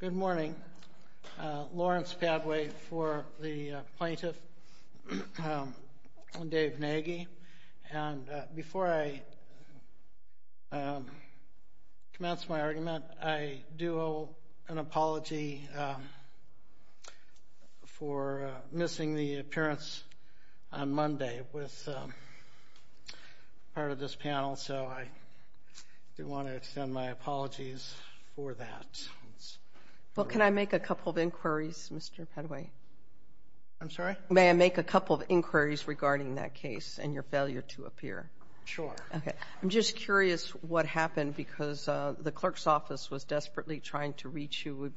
Good morning. Lawrence Padway for the plaintiff and Dave Nagy. And before I commence my argument, I do owe an apology for missing the appearance on Monday with part of this panel. So I do want to extend my apologies for that. Well, can I make a couple of inquiries, Mr. Padway? I'm sorry? May I make a couple of inquiries regarding that case and your failure to appear? Sure. Okay. I'm just curious what happened because the clerk's office was desperately trying to reach you.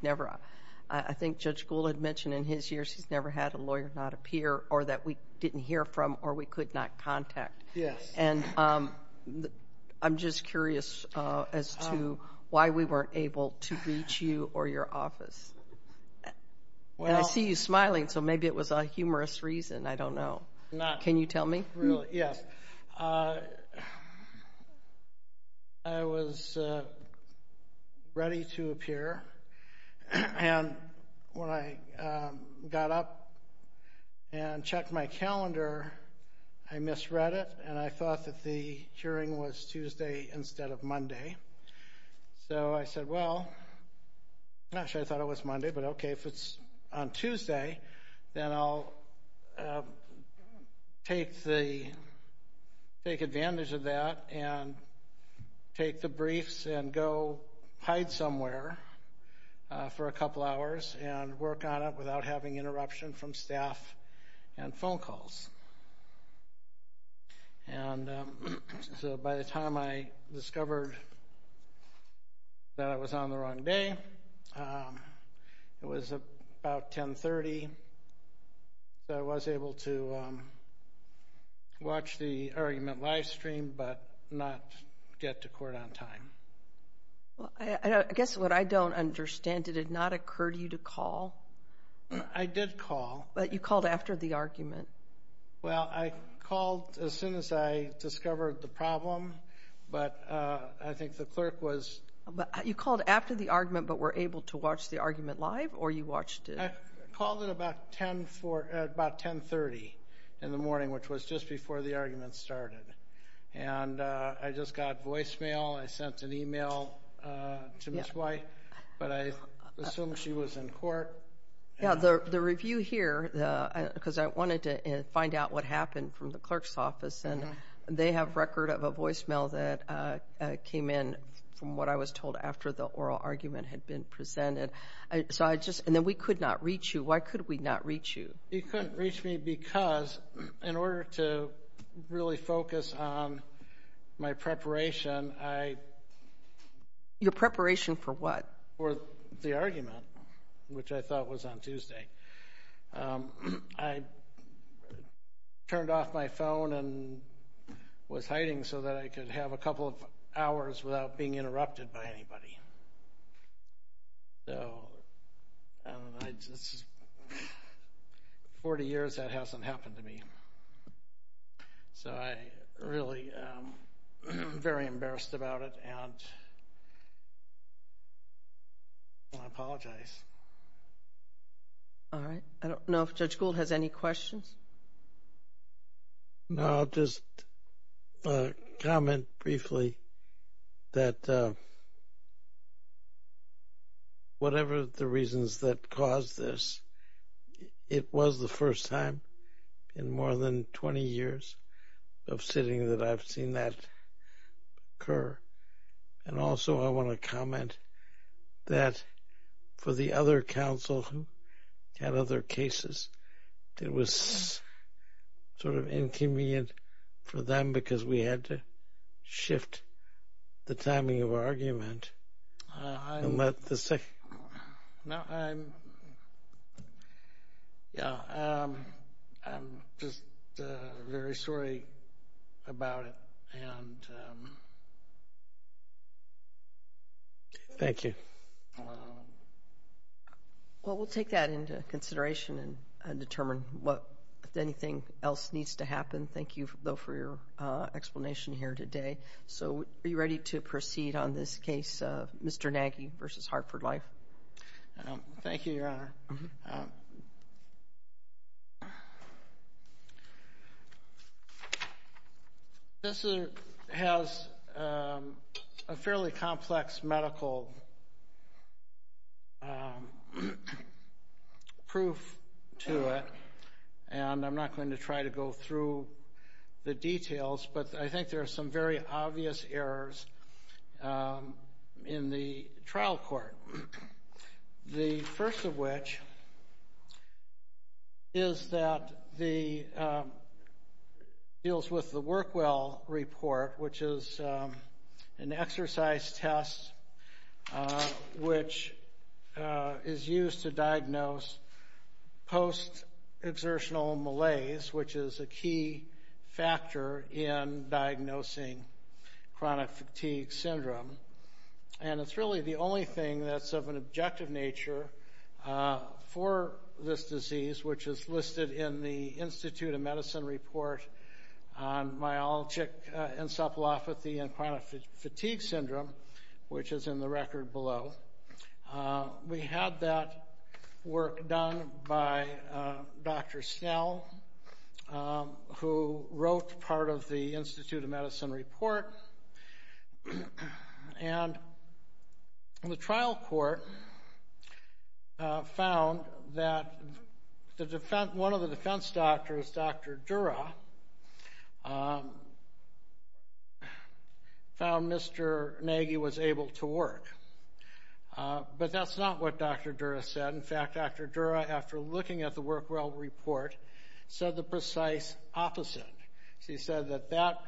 I think Judge Gould had mentioned in his years he's never had a lawyer not appear or that we didn't hear from or we could not contact. Yes. And I'm just curious as to why we weren't able to reach you or your office. And I see you smiling, so maybe it was a humorous reason. I don't know. Can you tell me? Really? Yes. I was ready to appear and when I got up and checked my calendar, I misread it and I thought that the hearing was Tuesday instead of Monday. So I said, well, gosh, I thought it was Monday, but okay, if it's on Tuesday, then I'll take advantage of that and take the briefs and go hide somewhere for a couple hours and work on it without having interruption from staff and phone calls. And so by the time I discovered that I was on the wrong day, it was about 1030, so I was able to watch the argument live stream but not get to court on time. I guess what I don't understand, did it not occur to you to call? I did call. But you called after the argument. Well, I called as soon as I discovered the problem, but I think the clerk was... You called after the argument but were able to watch the argument live or you watched it... I called at about 1030 in the morning, which was just before the argument started, and I just got voicemail. I sent an email to Ms. White, but I assumed she was in court. Yeah, the review here, because I wanted to find out what happened from the clerk's office, and they have record of a voicemail that came in from what I was told after the oral argument had been presented. And then we could not reach you. Why could we not reach you? You couldn't reach me because in order to really focus on my preparation, I... Your preparation for what? For the argument, which I thought was on Tuesday. I turned off my phone and was hiding so that I could have a couple of hours without being interrupted by anybody. Forty years, that hasn't happened to me. So I really am very embarrassed about it, and I apologize. All right. I don't know if Judge Gould has any questions. No, I'll just comment briefly that whatever the reasons that caused this, it was the first time in more than 20 years of sitting that I've seen that occur. And also, I want to comment that for the other counsel who had other cases, it was sort of inconvenient for them because we had to shift the timing of our argument. I'm just very sorry about it, and... Thank you. Well, we'll take that into consideration and determine if anything else needs to happen. Thank you, though, for your explanation here today. So are you ready to proceed on this case, Mr. Nagy v. Hartford Life? Thank you, Your Honor. This has a fairly complex medical proof to it, and I'm not going to try to go through the details, but I think there are some very obvious errors in the trial court, the first of which is that it deals with the Work Well Report, which is an exercise test which is used to diagnose post-exertional malaise, which is a key factor in diagnosing chronic fatigue syndrome. And it's really the only thing that's of an objective nature for this disease, which is listed in the Institute of Medicine Report on Myalgic Encephalopathy and Chronic Fatigue Syndrome, which is in the record below. We had that work done by Dr. Snell, who wrote part of the Institute of Medicine Report, and the trial court found that one of the defense doctors, Dr. Dura, found Mr. Nagy was able to work. But that's not what Dr. Dura said. In fact, Dr. Dura, after looking at the Work Well Report, said the precise opposite. She said that that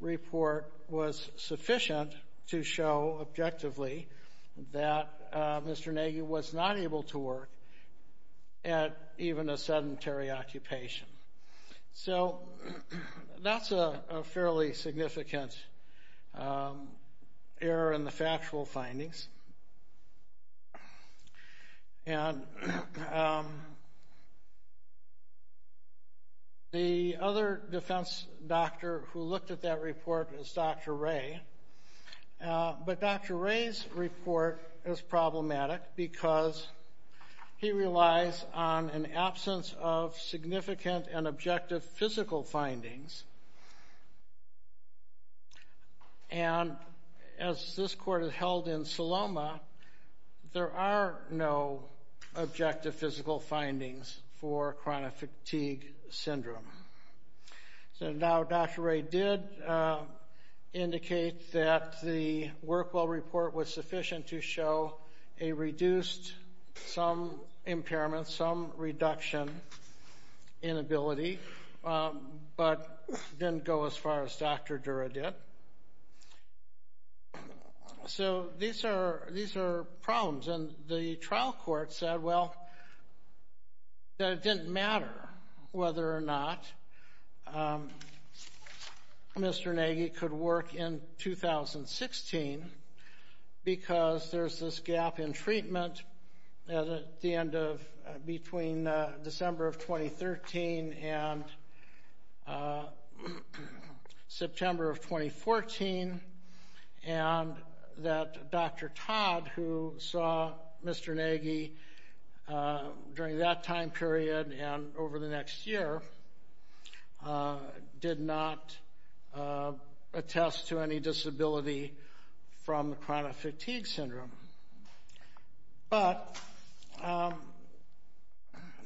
report was sufficient to show objectively that Mr. Nagy was not able to work at even a sedentary occupation. So that's a fairly significant error in the factual findings. And the other defense doctor who looked at that report was Dr. Ray. But Dr. Ray's report is problematic because he relies on an absence of significant and objective physical findings. And as this court has held in Saloma, there are no objective physical findings for chronic fatigue syndrome. So now Dr. Ray did indicate that the Work Well Report was sufficient to show a reduced, some impairment, some reduction in ability, but didn't go as far as Dr. Dura did. So these are problems. And the trial court said, well, that it didn't matter whether or not Mr. Nagy could work in 2016 because there's this gap in treatment between December of 2013 and September of 2014, and that Dr. Todd, who saw Mr. Nagy during that time period and over the next year, did not attest to any disability from chronic fatigue syndrome. But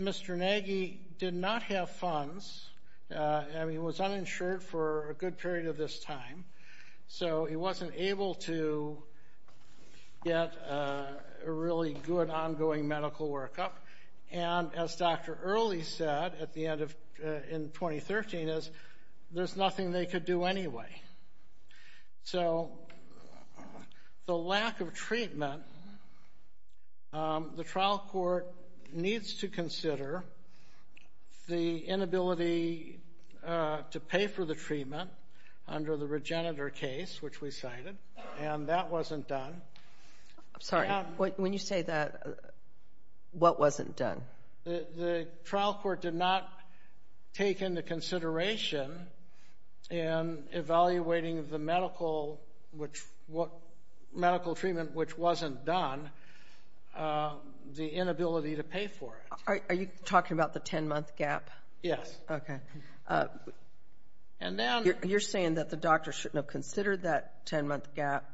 Mr. Nagy did not have funds. He was uninsured for a good period of this time, so he wasn't able to get a really good ongoing medical workup. And as Dr. Early said in 2013, there's nothing they could do anyway. So the lack of treatment, the trial court needs to consider the inability to pay for the treatment under the Regenitor case, which we cited, and that wasn't done. I'm sorry, when you say that, what wasn't done? The trial court did not take into consideration in evaluating the medical treatment which wasn't done the inability to pay for it. Are you talking about the 10-month gap? Yes. Okay. You're saying that the doctor shouldn't have considered that 10-month gap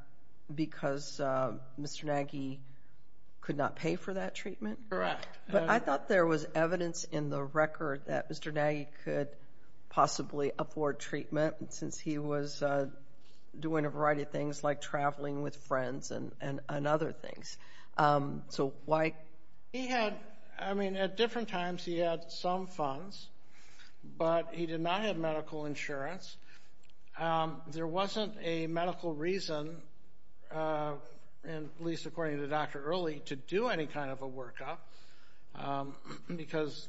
because Mr. Nagy could not pay for that treatment? Correct. But I thought there was evidence in the record that Mr. Nagy could possibly afford treatment since he was doing a variety of things like traveling with friends and other things. So why? He had, I mean, at different times he had some funds, but he did not have medical insurance. There wasn't a medical reason, at least according to Dr. Early, to do any kind of a workup because,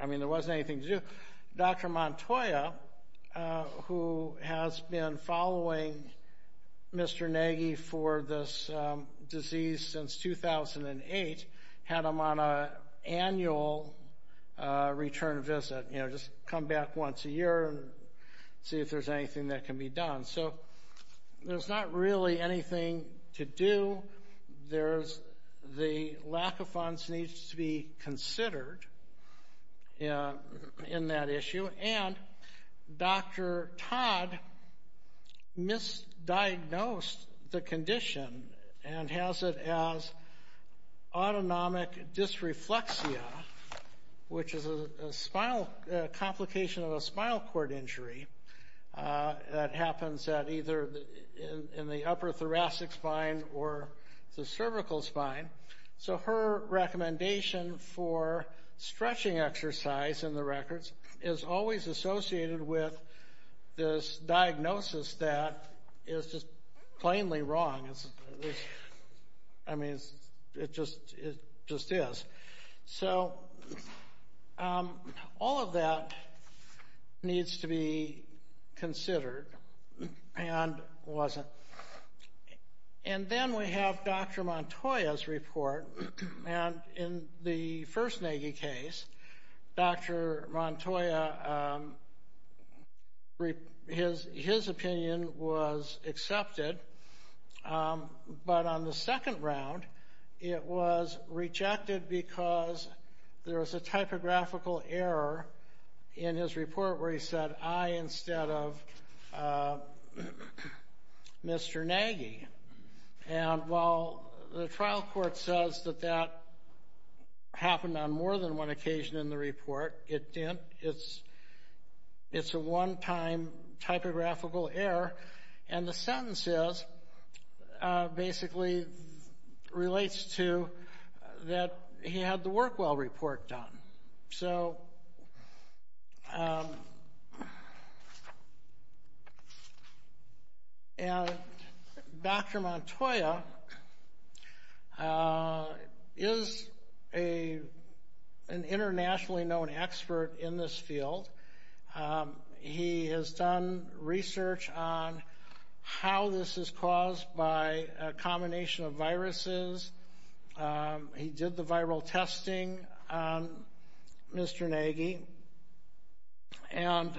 I mean, there wasn't anything to do. Dr. Montoya, who has been following Mr. Nagy for this disease since 2008, had him on an annual return visit, you know, just come back once a year and see if there's anything that can be done. So there's not really anything to do. The lack of funds needs to be considered in that issue. And Dr. Todd misdiagnosed the condition and has it as autonomic dysreflexia, which is a complication of a spinal cord injury that happens either in the upper thoracic spine or the cervical spine. So her recommendation for stretching exercise in the records is always associated with this diagnosis that is just plainly wrong. I mean, it just is. So all of that needs to be considered and wasn't. And then we have Dr. Montoya's report. And in the first Nagy case, Dr. Montoya, his opinion was accepted. But on the second round, it was rejected because there was a typographical error in his report where he said, I instead of Mr. Nagy. And while the trial court says that that happened on more than one occasion in the report, it didn't. It's a one-time typographical error. And the sentence is, basically relates to that he had the WorkWell report done. So Dr. Montoya is an internationally known expert in this field. He has done research on how this is caused by a combination of viruses. He did the viral testing on Mr. Nagy. And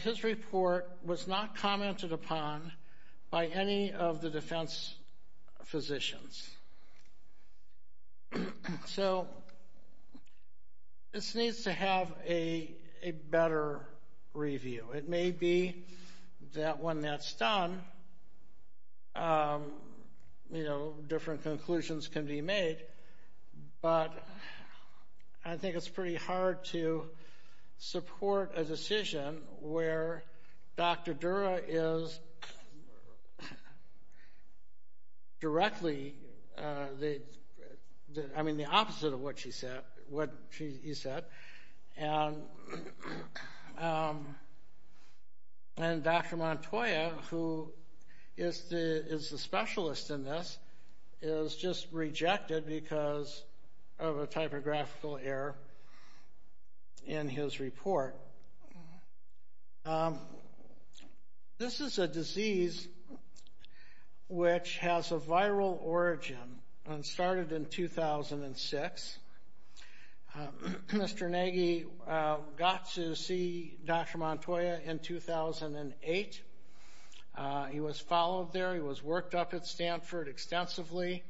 his report was not commented upon by any of the defense physicians. So this needs to have a better review. It may be that when that's done, different conclusions can be made. But I think it's pretty hard to support a decision where Dr. Dura is directly the opposite of what she said. And Dr. Montoya, who is the specialist in this, is just rejected because of a typographical error in his report. This is a disease which has a viral origin and started in 2006. Mr. Nagy got to see Dr. Montoya in 2008. He was followed there. He was worked up at Stanford extensively.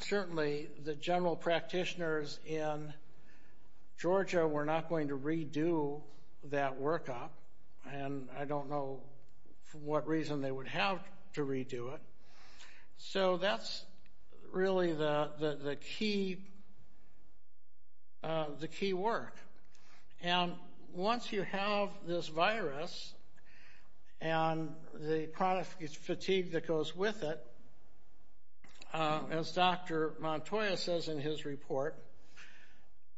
Certainly, the general practitioners in Georgia were not going to redo that workup. And I don't know for what reason they would have to redo it. So that's really the key work. And once you have this virus and the chronic fatigue that goes with it, as Dr. Montoya says in his report,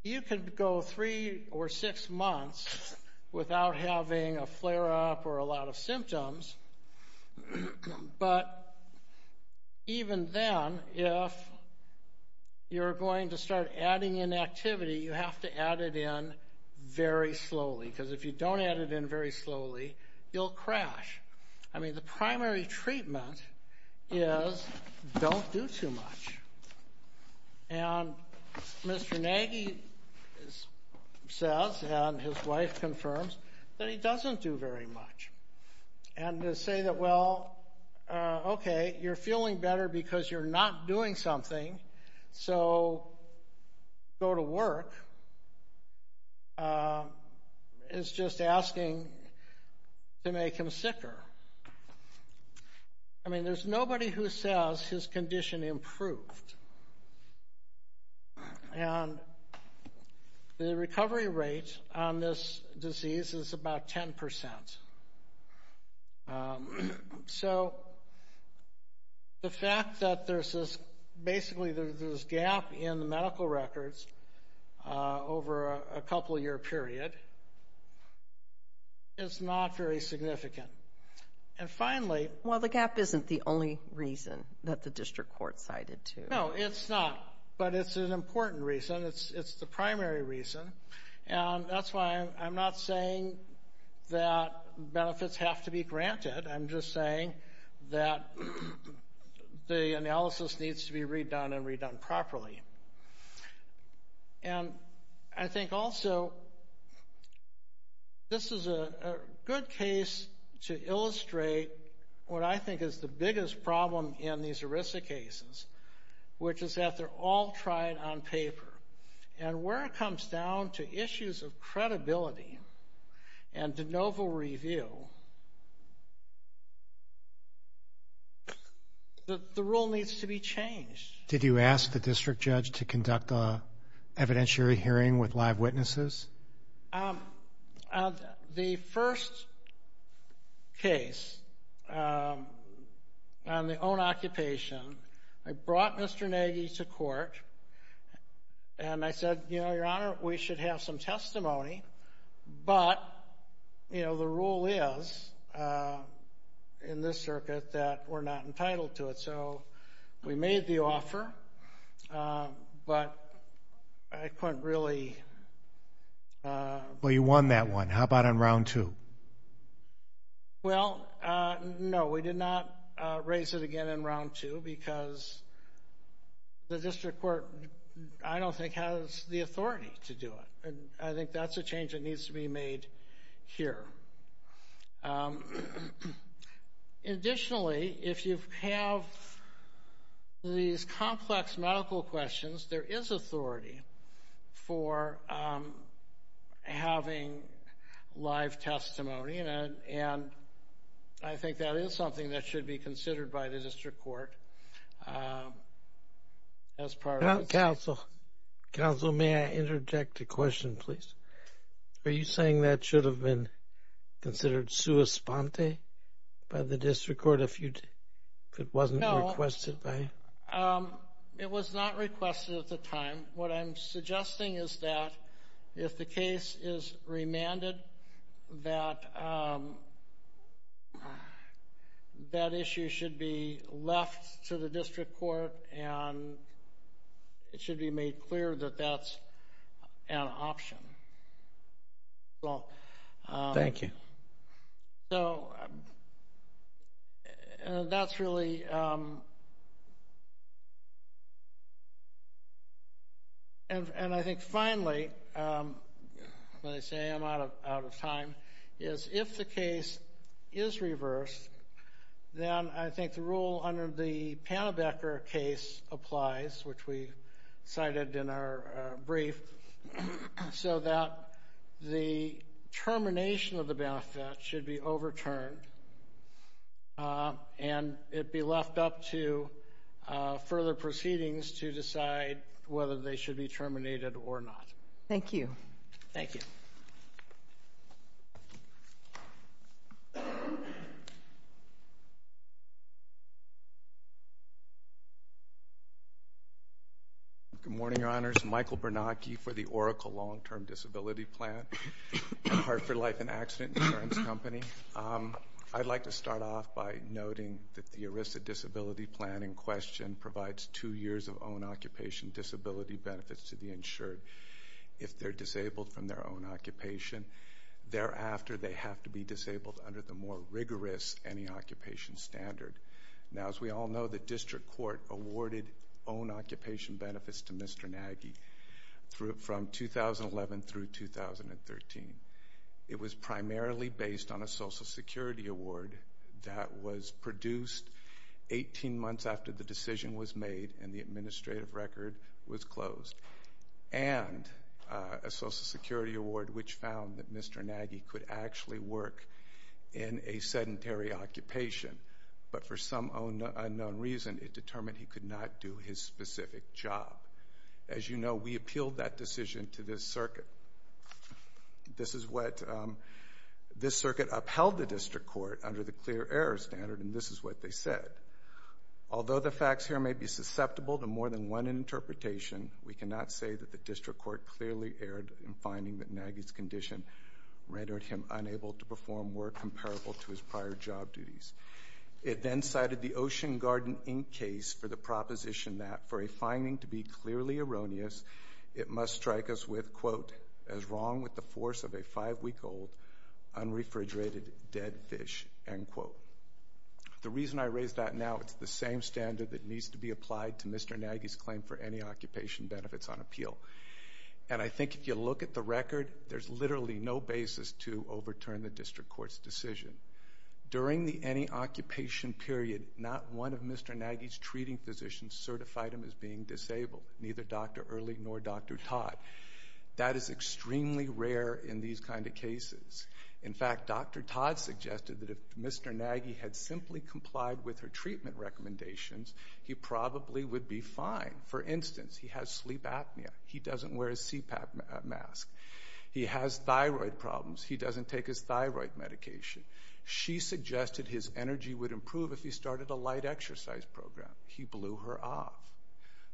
you can go three or six months without having a flare-up or a lot of symptoms. But even then, if you're going to start adding in activity, you have to add it in very slowly. Because if you don't add it in very slowly, you'll crash. I mean, the primary treatment is don't do too much. And Mr. Nagy says, and his wife confirms, that he doesn't do very much. And to say that, well, okay, you're feeling better because you're not doing something, so go to work is just asking to make him sicker. I mean, there's nobody who says his condition improved. And the recovery rate on this disease is about 10 percent. So the fact that there's basically this gap in the medical records over a couple-year period is not very significant. And finally — Well, the gap isn't the only reason that the district court cited, too. No, it's not. But it's an important reason. It's the primary reason. And that's why I'm not saying that benefits have to be granted. I'm just saying that the analysis needs to be redone and redone properly. And I think also this is a good case to illustrate what I think is the biggest problem in these ERISA cases, which is that they're all tried on paper. And where it comes down to issues of credibility and de novo review, the rule needs to be changed. Did you ask the district judge to conduct an evidentiary hearing with live witnesses? The first case on the own occupation, I brought Mr. Nagy to court, and I said, you know, Your Honor, we should have some testimony, but, you know, the rule is in this circuit that we're not entitled to it. So we made the offer, but I couldn't really — Well, you won that one. How about on round two? Well, no, we did not raise it again in round two because the district court, I don't think, has the authority to do it. And I think that's a change that needs to be made here. Additionally, if you have these complex medical questions, there is authority for having live testimony, and I think that is something that should be considered by the district court as part of this. Counsel, may I interject a question, please? Are you saying that should have been considered sua sponte by the district court if it wasn't requested? No, it was not requested at the time. What I'm suggesting is that if the case is remanded, that that issue should be left to the district court, and it should be made clear that that's an option. Thank you. So that's really — And I think finally, when I say I'm out of time, is if the case is reversed, then I think the rule under the Pannebecker case applies, which we cited in our brief, so that the termination of the benefit should be overturned and it be left up to further proceedings to decide whether they should be terminated or not. Thank you. Thank you. Good morning, Your Honors. Michael Bernacchi for the Oracle Long-Term Disability Plan at Hartford Life and Accident Insurance Company. I'd like to start off by noting that the ERISA disability plan in question provides two years of own occupation disability benefits to the insured if they're disabled from their own occupation. Thereafter, they have to be disabled under the more rigorous any occupation standard. Now, as we all know, the district court awarded own occupation benefits to Mr. Nagy from 2011 through 2013. It was primarily based on a Social Security award that was produced 18 months after the decision was made and the administrative record was closed, and a Social Security award which found that Mr. Nagy could actually work in a sedentary occupation, but for some unknown reason it determined he could not do his specific job. As you know, we appealed that decision to this circuit. This is what this circuit upheld the district court under the clear error standard, and this is what they said. Although the facts here may be susceptible to more than one interpretation, we cannot say that the district court clearly erred in finding that Nagy's condition rendered him unable to perform work comparable to his prior job duties. It then cited the Ocean Garden Inc. case for the proposition that for a finding to be clearly erroneous, it must strike us with, quote, as wrong with the force of a five-week-old unrefrigerated dead fish, end quote. The reason I raise that now, it's the same standard that needs to be applied to Mr. Nagy's claim for any occupation benefits on appeal. And I think if you look at the record, there's literally no basis to overturn the district court's decision. During the any occupation period, not one of Mr. Nagy's treating physicians certified him as being disabled, neither Dr. Early nor Dr. Todd. That is extremely rare in these kind of cases. In fact, Dr. Todd suggested that if Mr. Nagy had simply complied with her treatment recommendations, he probably would be fine. For instance, he has sleep apnea. He doesn't wear a CPAP mask. He has thyroid problems. He doesn't take his thyroid medication. She suggested his energy would improve if he started a light exercise program. He blew her off.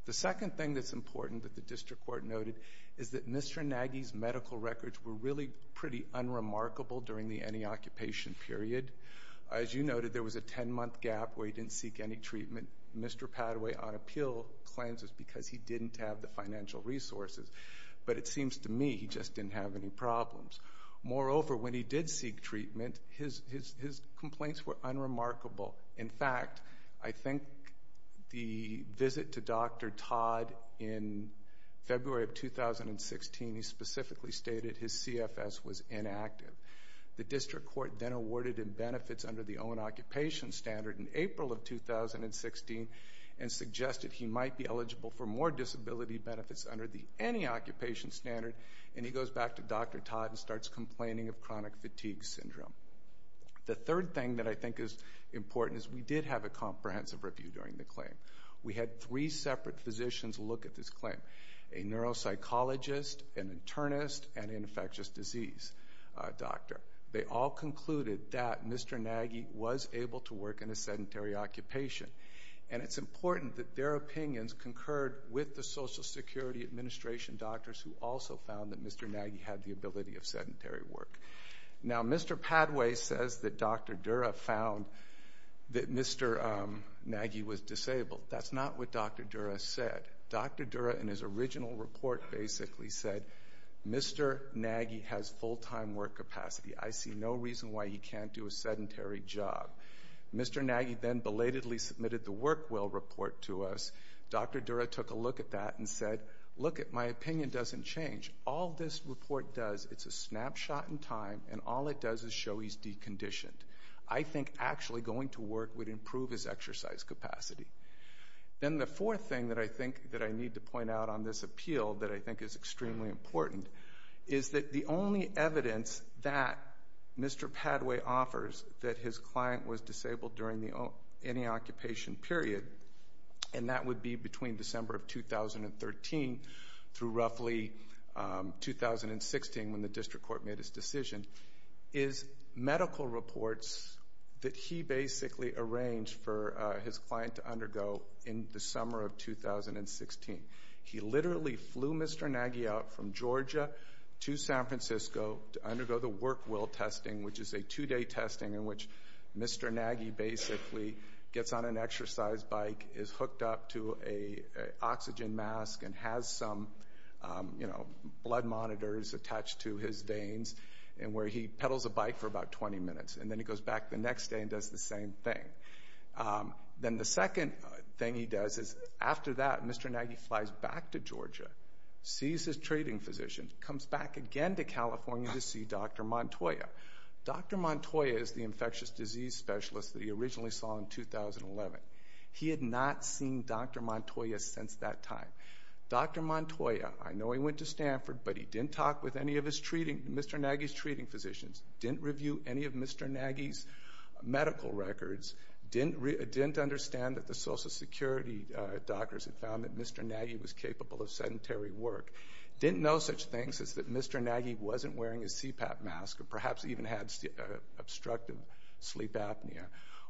The second thing that's important that the district court noted is that Mr. Nagy's medical records were really pretty unremarkable during the any occupation period. As you noted, there was a 10-month gap where he didn't seek any treatment. Mr. Padaway, on appeal, claims it's because he didn't have the financial resources. But it seems to me he just didn't have any problems. Moreover, when he did seek treatment, his complaints were unremarkable. In fact, I think the visit to Dr. Todd in February of 2016, he specifically stated his CFS was inactive. The district court then awarded him benefits under the own occupation standard in April of 2016 and suggested he might be eligible for more disability benefits under the any occupation standard. And he goes back to Dr. Todd and starts complaining of chronic fatigue syndrome. The third thing that I think is important is we did have a comprehensive review during the claim. We had three separate physicians look at this claim. A neuropsychologist, an internist, and an infectious disease doctor. They all concluded that Mr. Nagy was able to work in a sedentary occupation. And it's important that their opinions concurred with the Social Security Administration doctors who also found that Mr. Nagy had the ability of sedentary work. Now, Mr. Padaway says that Dr. Dura found that Mr. Nagy was disabled. That's not what Dr. Dura said. Dr. Dura, in his original report, basically said, Mr. Nagy has full-time work capacity. I see no reason why he can't do a sedentary job. Mr. Nagy then belatedly submitted the work well report to us. Dr. Dura took a look at that and said, look, my opinion doesn't change. All this report does, it's a snapshot in time, and all it does is show he's deconditioned. I think actually going to work would improve his exercise capacity. Then the fourth thing that I think that I need to point out on this appeal that I think is extremely important is that the only evidence that Mr. Padaway offers that his client was disabled during any occupation period, and that would be between December of 2013 through roughly 2016 when the district court made his decision, is medical reports that he basically arranged for his client to undergo in the summer of 2016. He literally flew Mr. Nagy out from Georgia to San Francisco to undergo the work well testing, which is a two-day testing in which Mr. Nagy basically gets on an exercise bike, is hooked up to an oxygen mask, and has some blood monitors attached to his veins where he pedals a bike for about 20 minutes, and then he goes back the next day and does the same thing. Then the second thing he does is after that, Mr. Nagy flies back to Georgia, sees his treating physician, comes back again to California to see Dr. Montoya. Dr. Montoya is the infectious disease specialist that he originally saw in 2011. He had not seen Dr. Montoya since that time. Dr. Montoya, I know he went to Stanford, but he didn't talk with any of Mr. Nagy's treating physicians, didn't review any of Mr. Nagy's medical records, didn't understand that the Social Security doctors had found that Mr. Nagy was capable of sedentary work, didn't know such things as that Mr. Nagy wasn't wearing a CPAP mask or perhaps even had obstructive sleep apnea,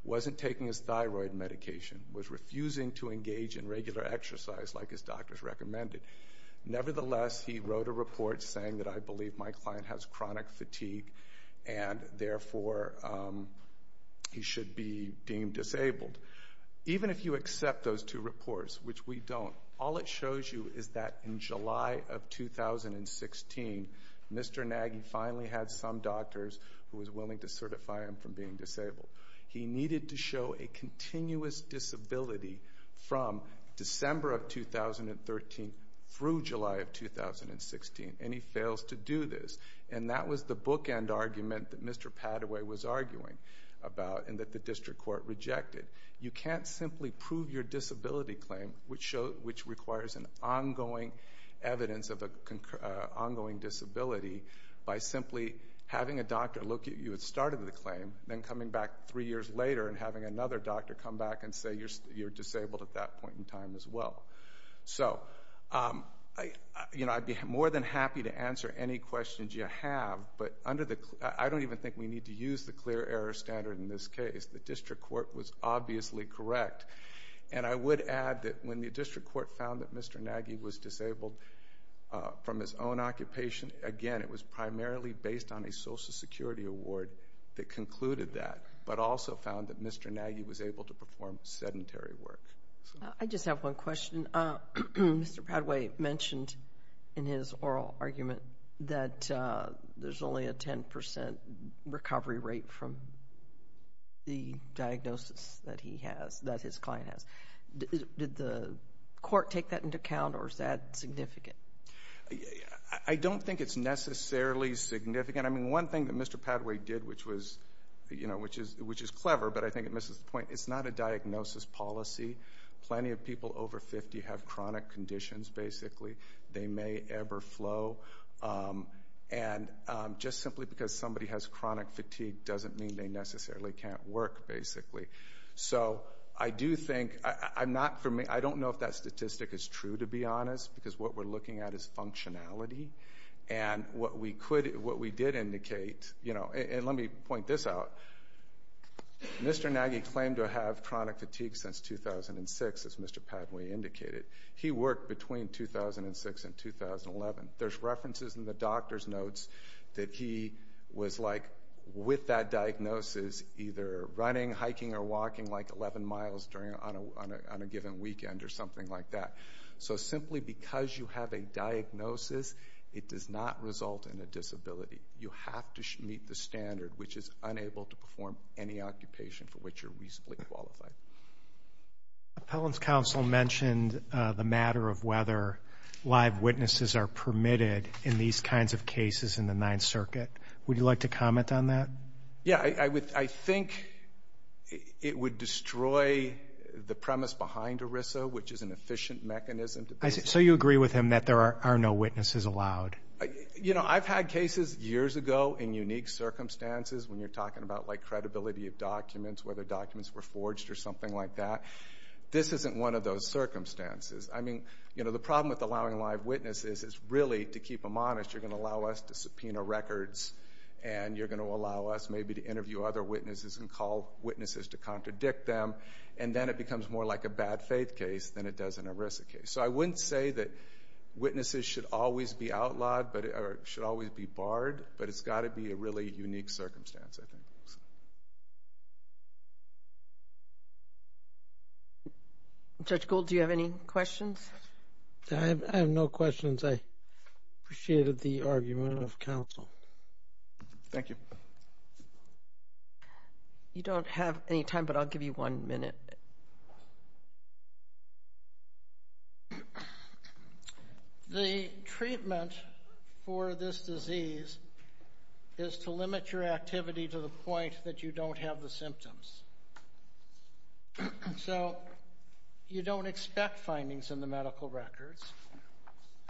wasn't taking his thyroid medication, was refusing to engage in regular exercise like his doctors recommended. Nevertheless, he wrote a report saying that, I believe my client has chronic fatigue and therefore he should be deemed disabled. Even if you accept those two reports, which we don't, all it shows you is that in July of 2016, Mr. Nagy finally had some doctors who were willing to certify him from being disabled. He needed to show a continuous disability from December of 2013 through July of 2016, and he fails to do this. And that was the bookend argument that Mr. Padaway was arguing about and that the district court rejected. You can't simply prove your disability claim, which requires an ongoing evidence of an ongoing disability, by simply having a doctor look at you at the start of the claim, then coming back three years later and having another doctor come back and say you're disabled at that point in time as well. So, you know, I'd be more than happy to answer any questions you have, but I don't even think we need to use the clear error standard in this case. The district court was obviously correct. And I would add that when the district court found that Mr. Nagy was disabled from his own occupation, again, it was primarily based on a Social Security award that concluded that, but also found that Mr. Nagy was able to perform sedentary work. I just have one question. Mr. Padaway mentioned in his oral argument that there's only a 10 percent recovery rate from the diagnosis that he has, that his client has. Did the court take that into account, or is that significant? I don't think it's necessarily significant. I mean, one thing that Mr. Padaway did, which was, you know, which is clever, but I think it misses the point, it's not a diagnosis policy. Plenty of people over 50 have chronic conditions, basically. They may ever flow. And just simply because somebody has chronic fatigue doesn't mean they necessarily can't work, basically. So I do think, I'm not for me, I don't know if that statistic is true, to be honest, because what we're looking at is functionality. And what we did indicate, you know, and let me point this out, Mr. Nagy claimed to have chronic fatigue since 2006, as Mr. Padaway indicated. He worked between 2006 and 2011. There's references in the doctor's notes that he was, like, with that diagnosis, either running, hiking, or walking, like, 11 miles on a given weekend or something like that. So simply because you have a diagnosis, it does not result in a disability. You have to meet the standard, which is unable to perform any occupation for which you're reasonably qualified. Appellant's counsel mentioned the matter of whether live witnesses are permitted in these kinds of cases in the Ninth Circuit. Would you like to comment on that? Yeah, I think it would destroy the premise behind ERISA, which is an efficient mechanism. So you agree with him that there are no witnesses allowed? You know, I've had cases years ago in unique circumstances, when you're talking about, like, credibility of documents, whether documents were forged or something like that. This isn't one of those circumstances. I mean, you know, the problem with allowing live witnesses is really, to keep them honest, you're going to allow us to subpoena records, and you're going to allow us maybe to interview other witnesses and call witnesses to contradict them, and then it becomes more like a bad faith case than it does an ERISA case. So I wouldn't say that witnesses should always be outlawed or should always be barred, but it's got to be a really unique circumstance, I think. Judge Gould, do you have any questions? I have no questions. I appreciated the argument of counsel. Thank you. You don't have any time, but I'll give you one minute. The treatment for this disease is to limit your activity to the point that you don't have the symptoms. So you don't expect findings in the medical records,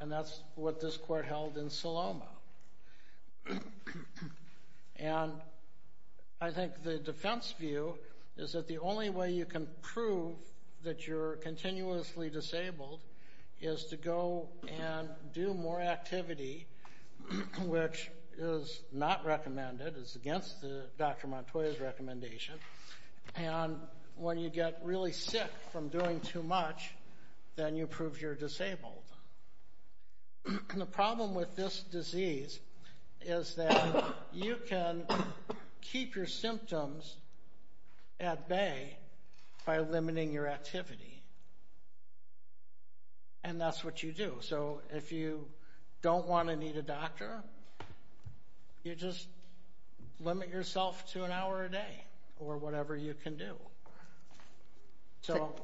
and that's what this court held in Saloma. And I think the defense view is that the only way you can prove that you're continuously disabled is to go and do more activity, which is not recommended. It's against Dr. Montoya's recommendation. And when you get really sick from doing too much, then you prove you're disabled. And the problem with this disease is that you can keep your symptoms at bay by limiting your activity. And that's what you do. So if you don't want to need a doctor, you just limit yourself to an hour a day or whatever you can do. So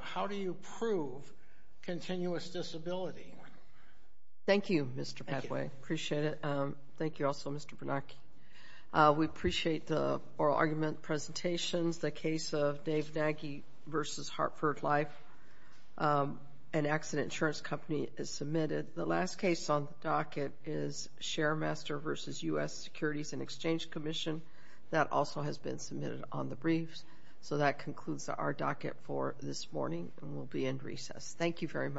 how do you prove continuous disability? Thank you, Mr. Padway. Appreciate it. Thank you also, Mr. Bernanke. We appreciate the oral argument presentations. The case of Dave Nagy v. Hartford Life, an accident insurance company, is submitted. The last case on the docket is Sharemaster v. U.S. Securities and Exchange Commission. That also has been submitted on the briefs. So that concludes our docket for this morning, and we'll be in recess. Thank you very much.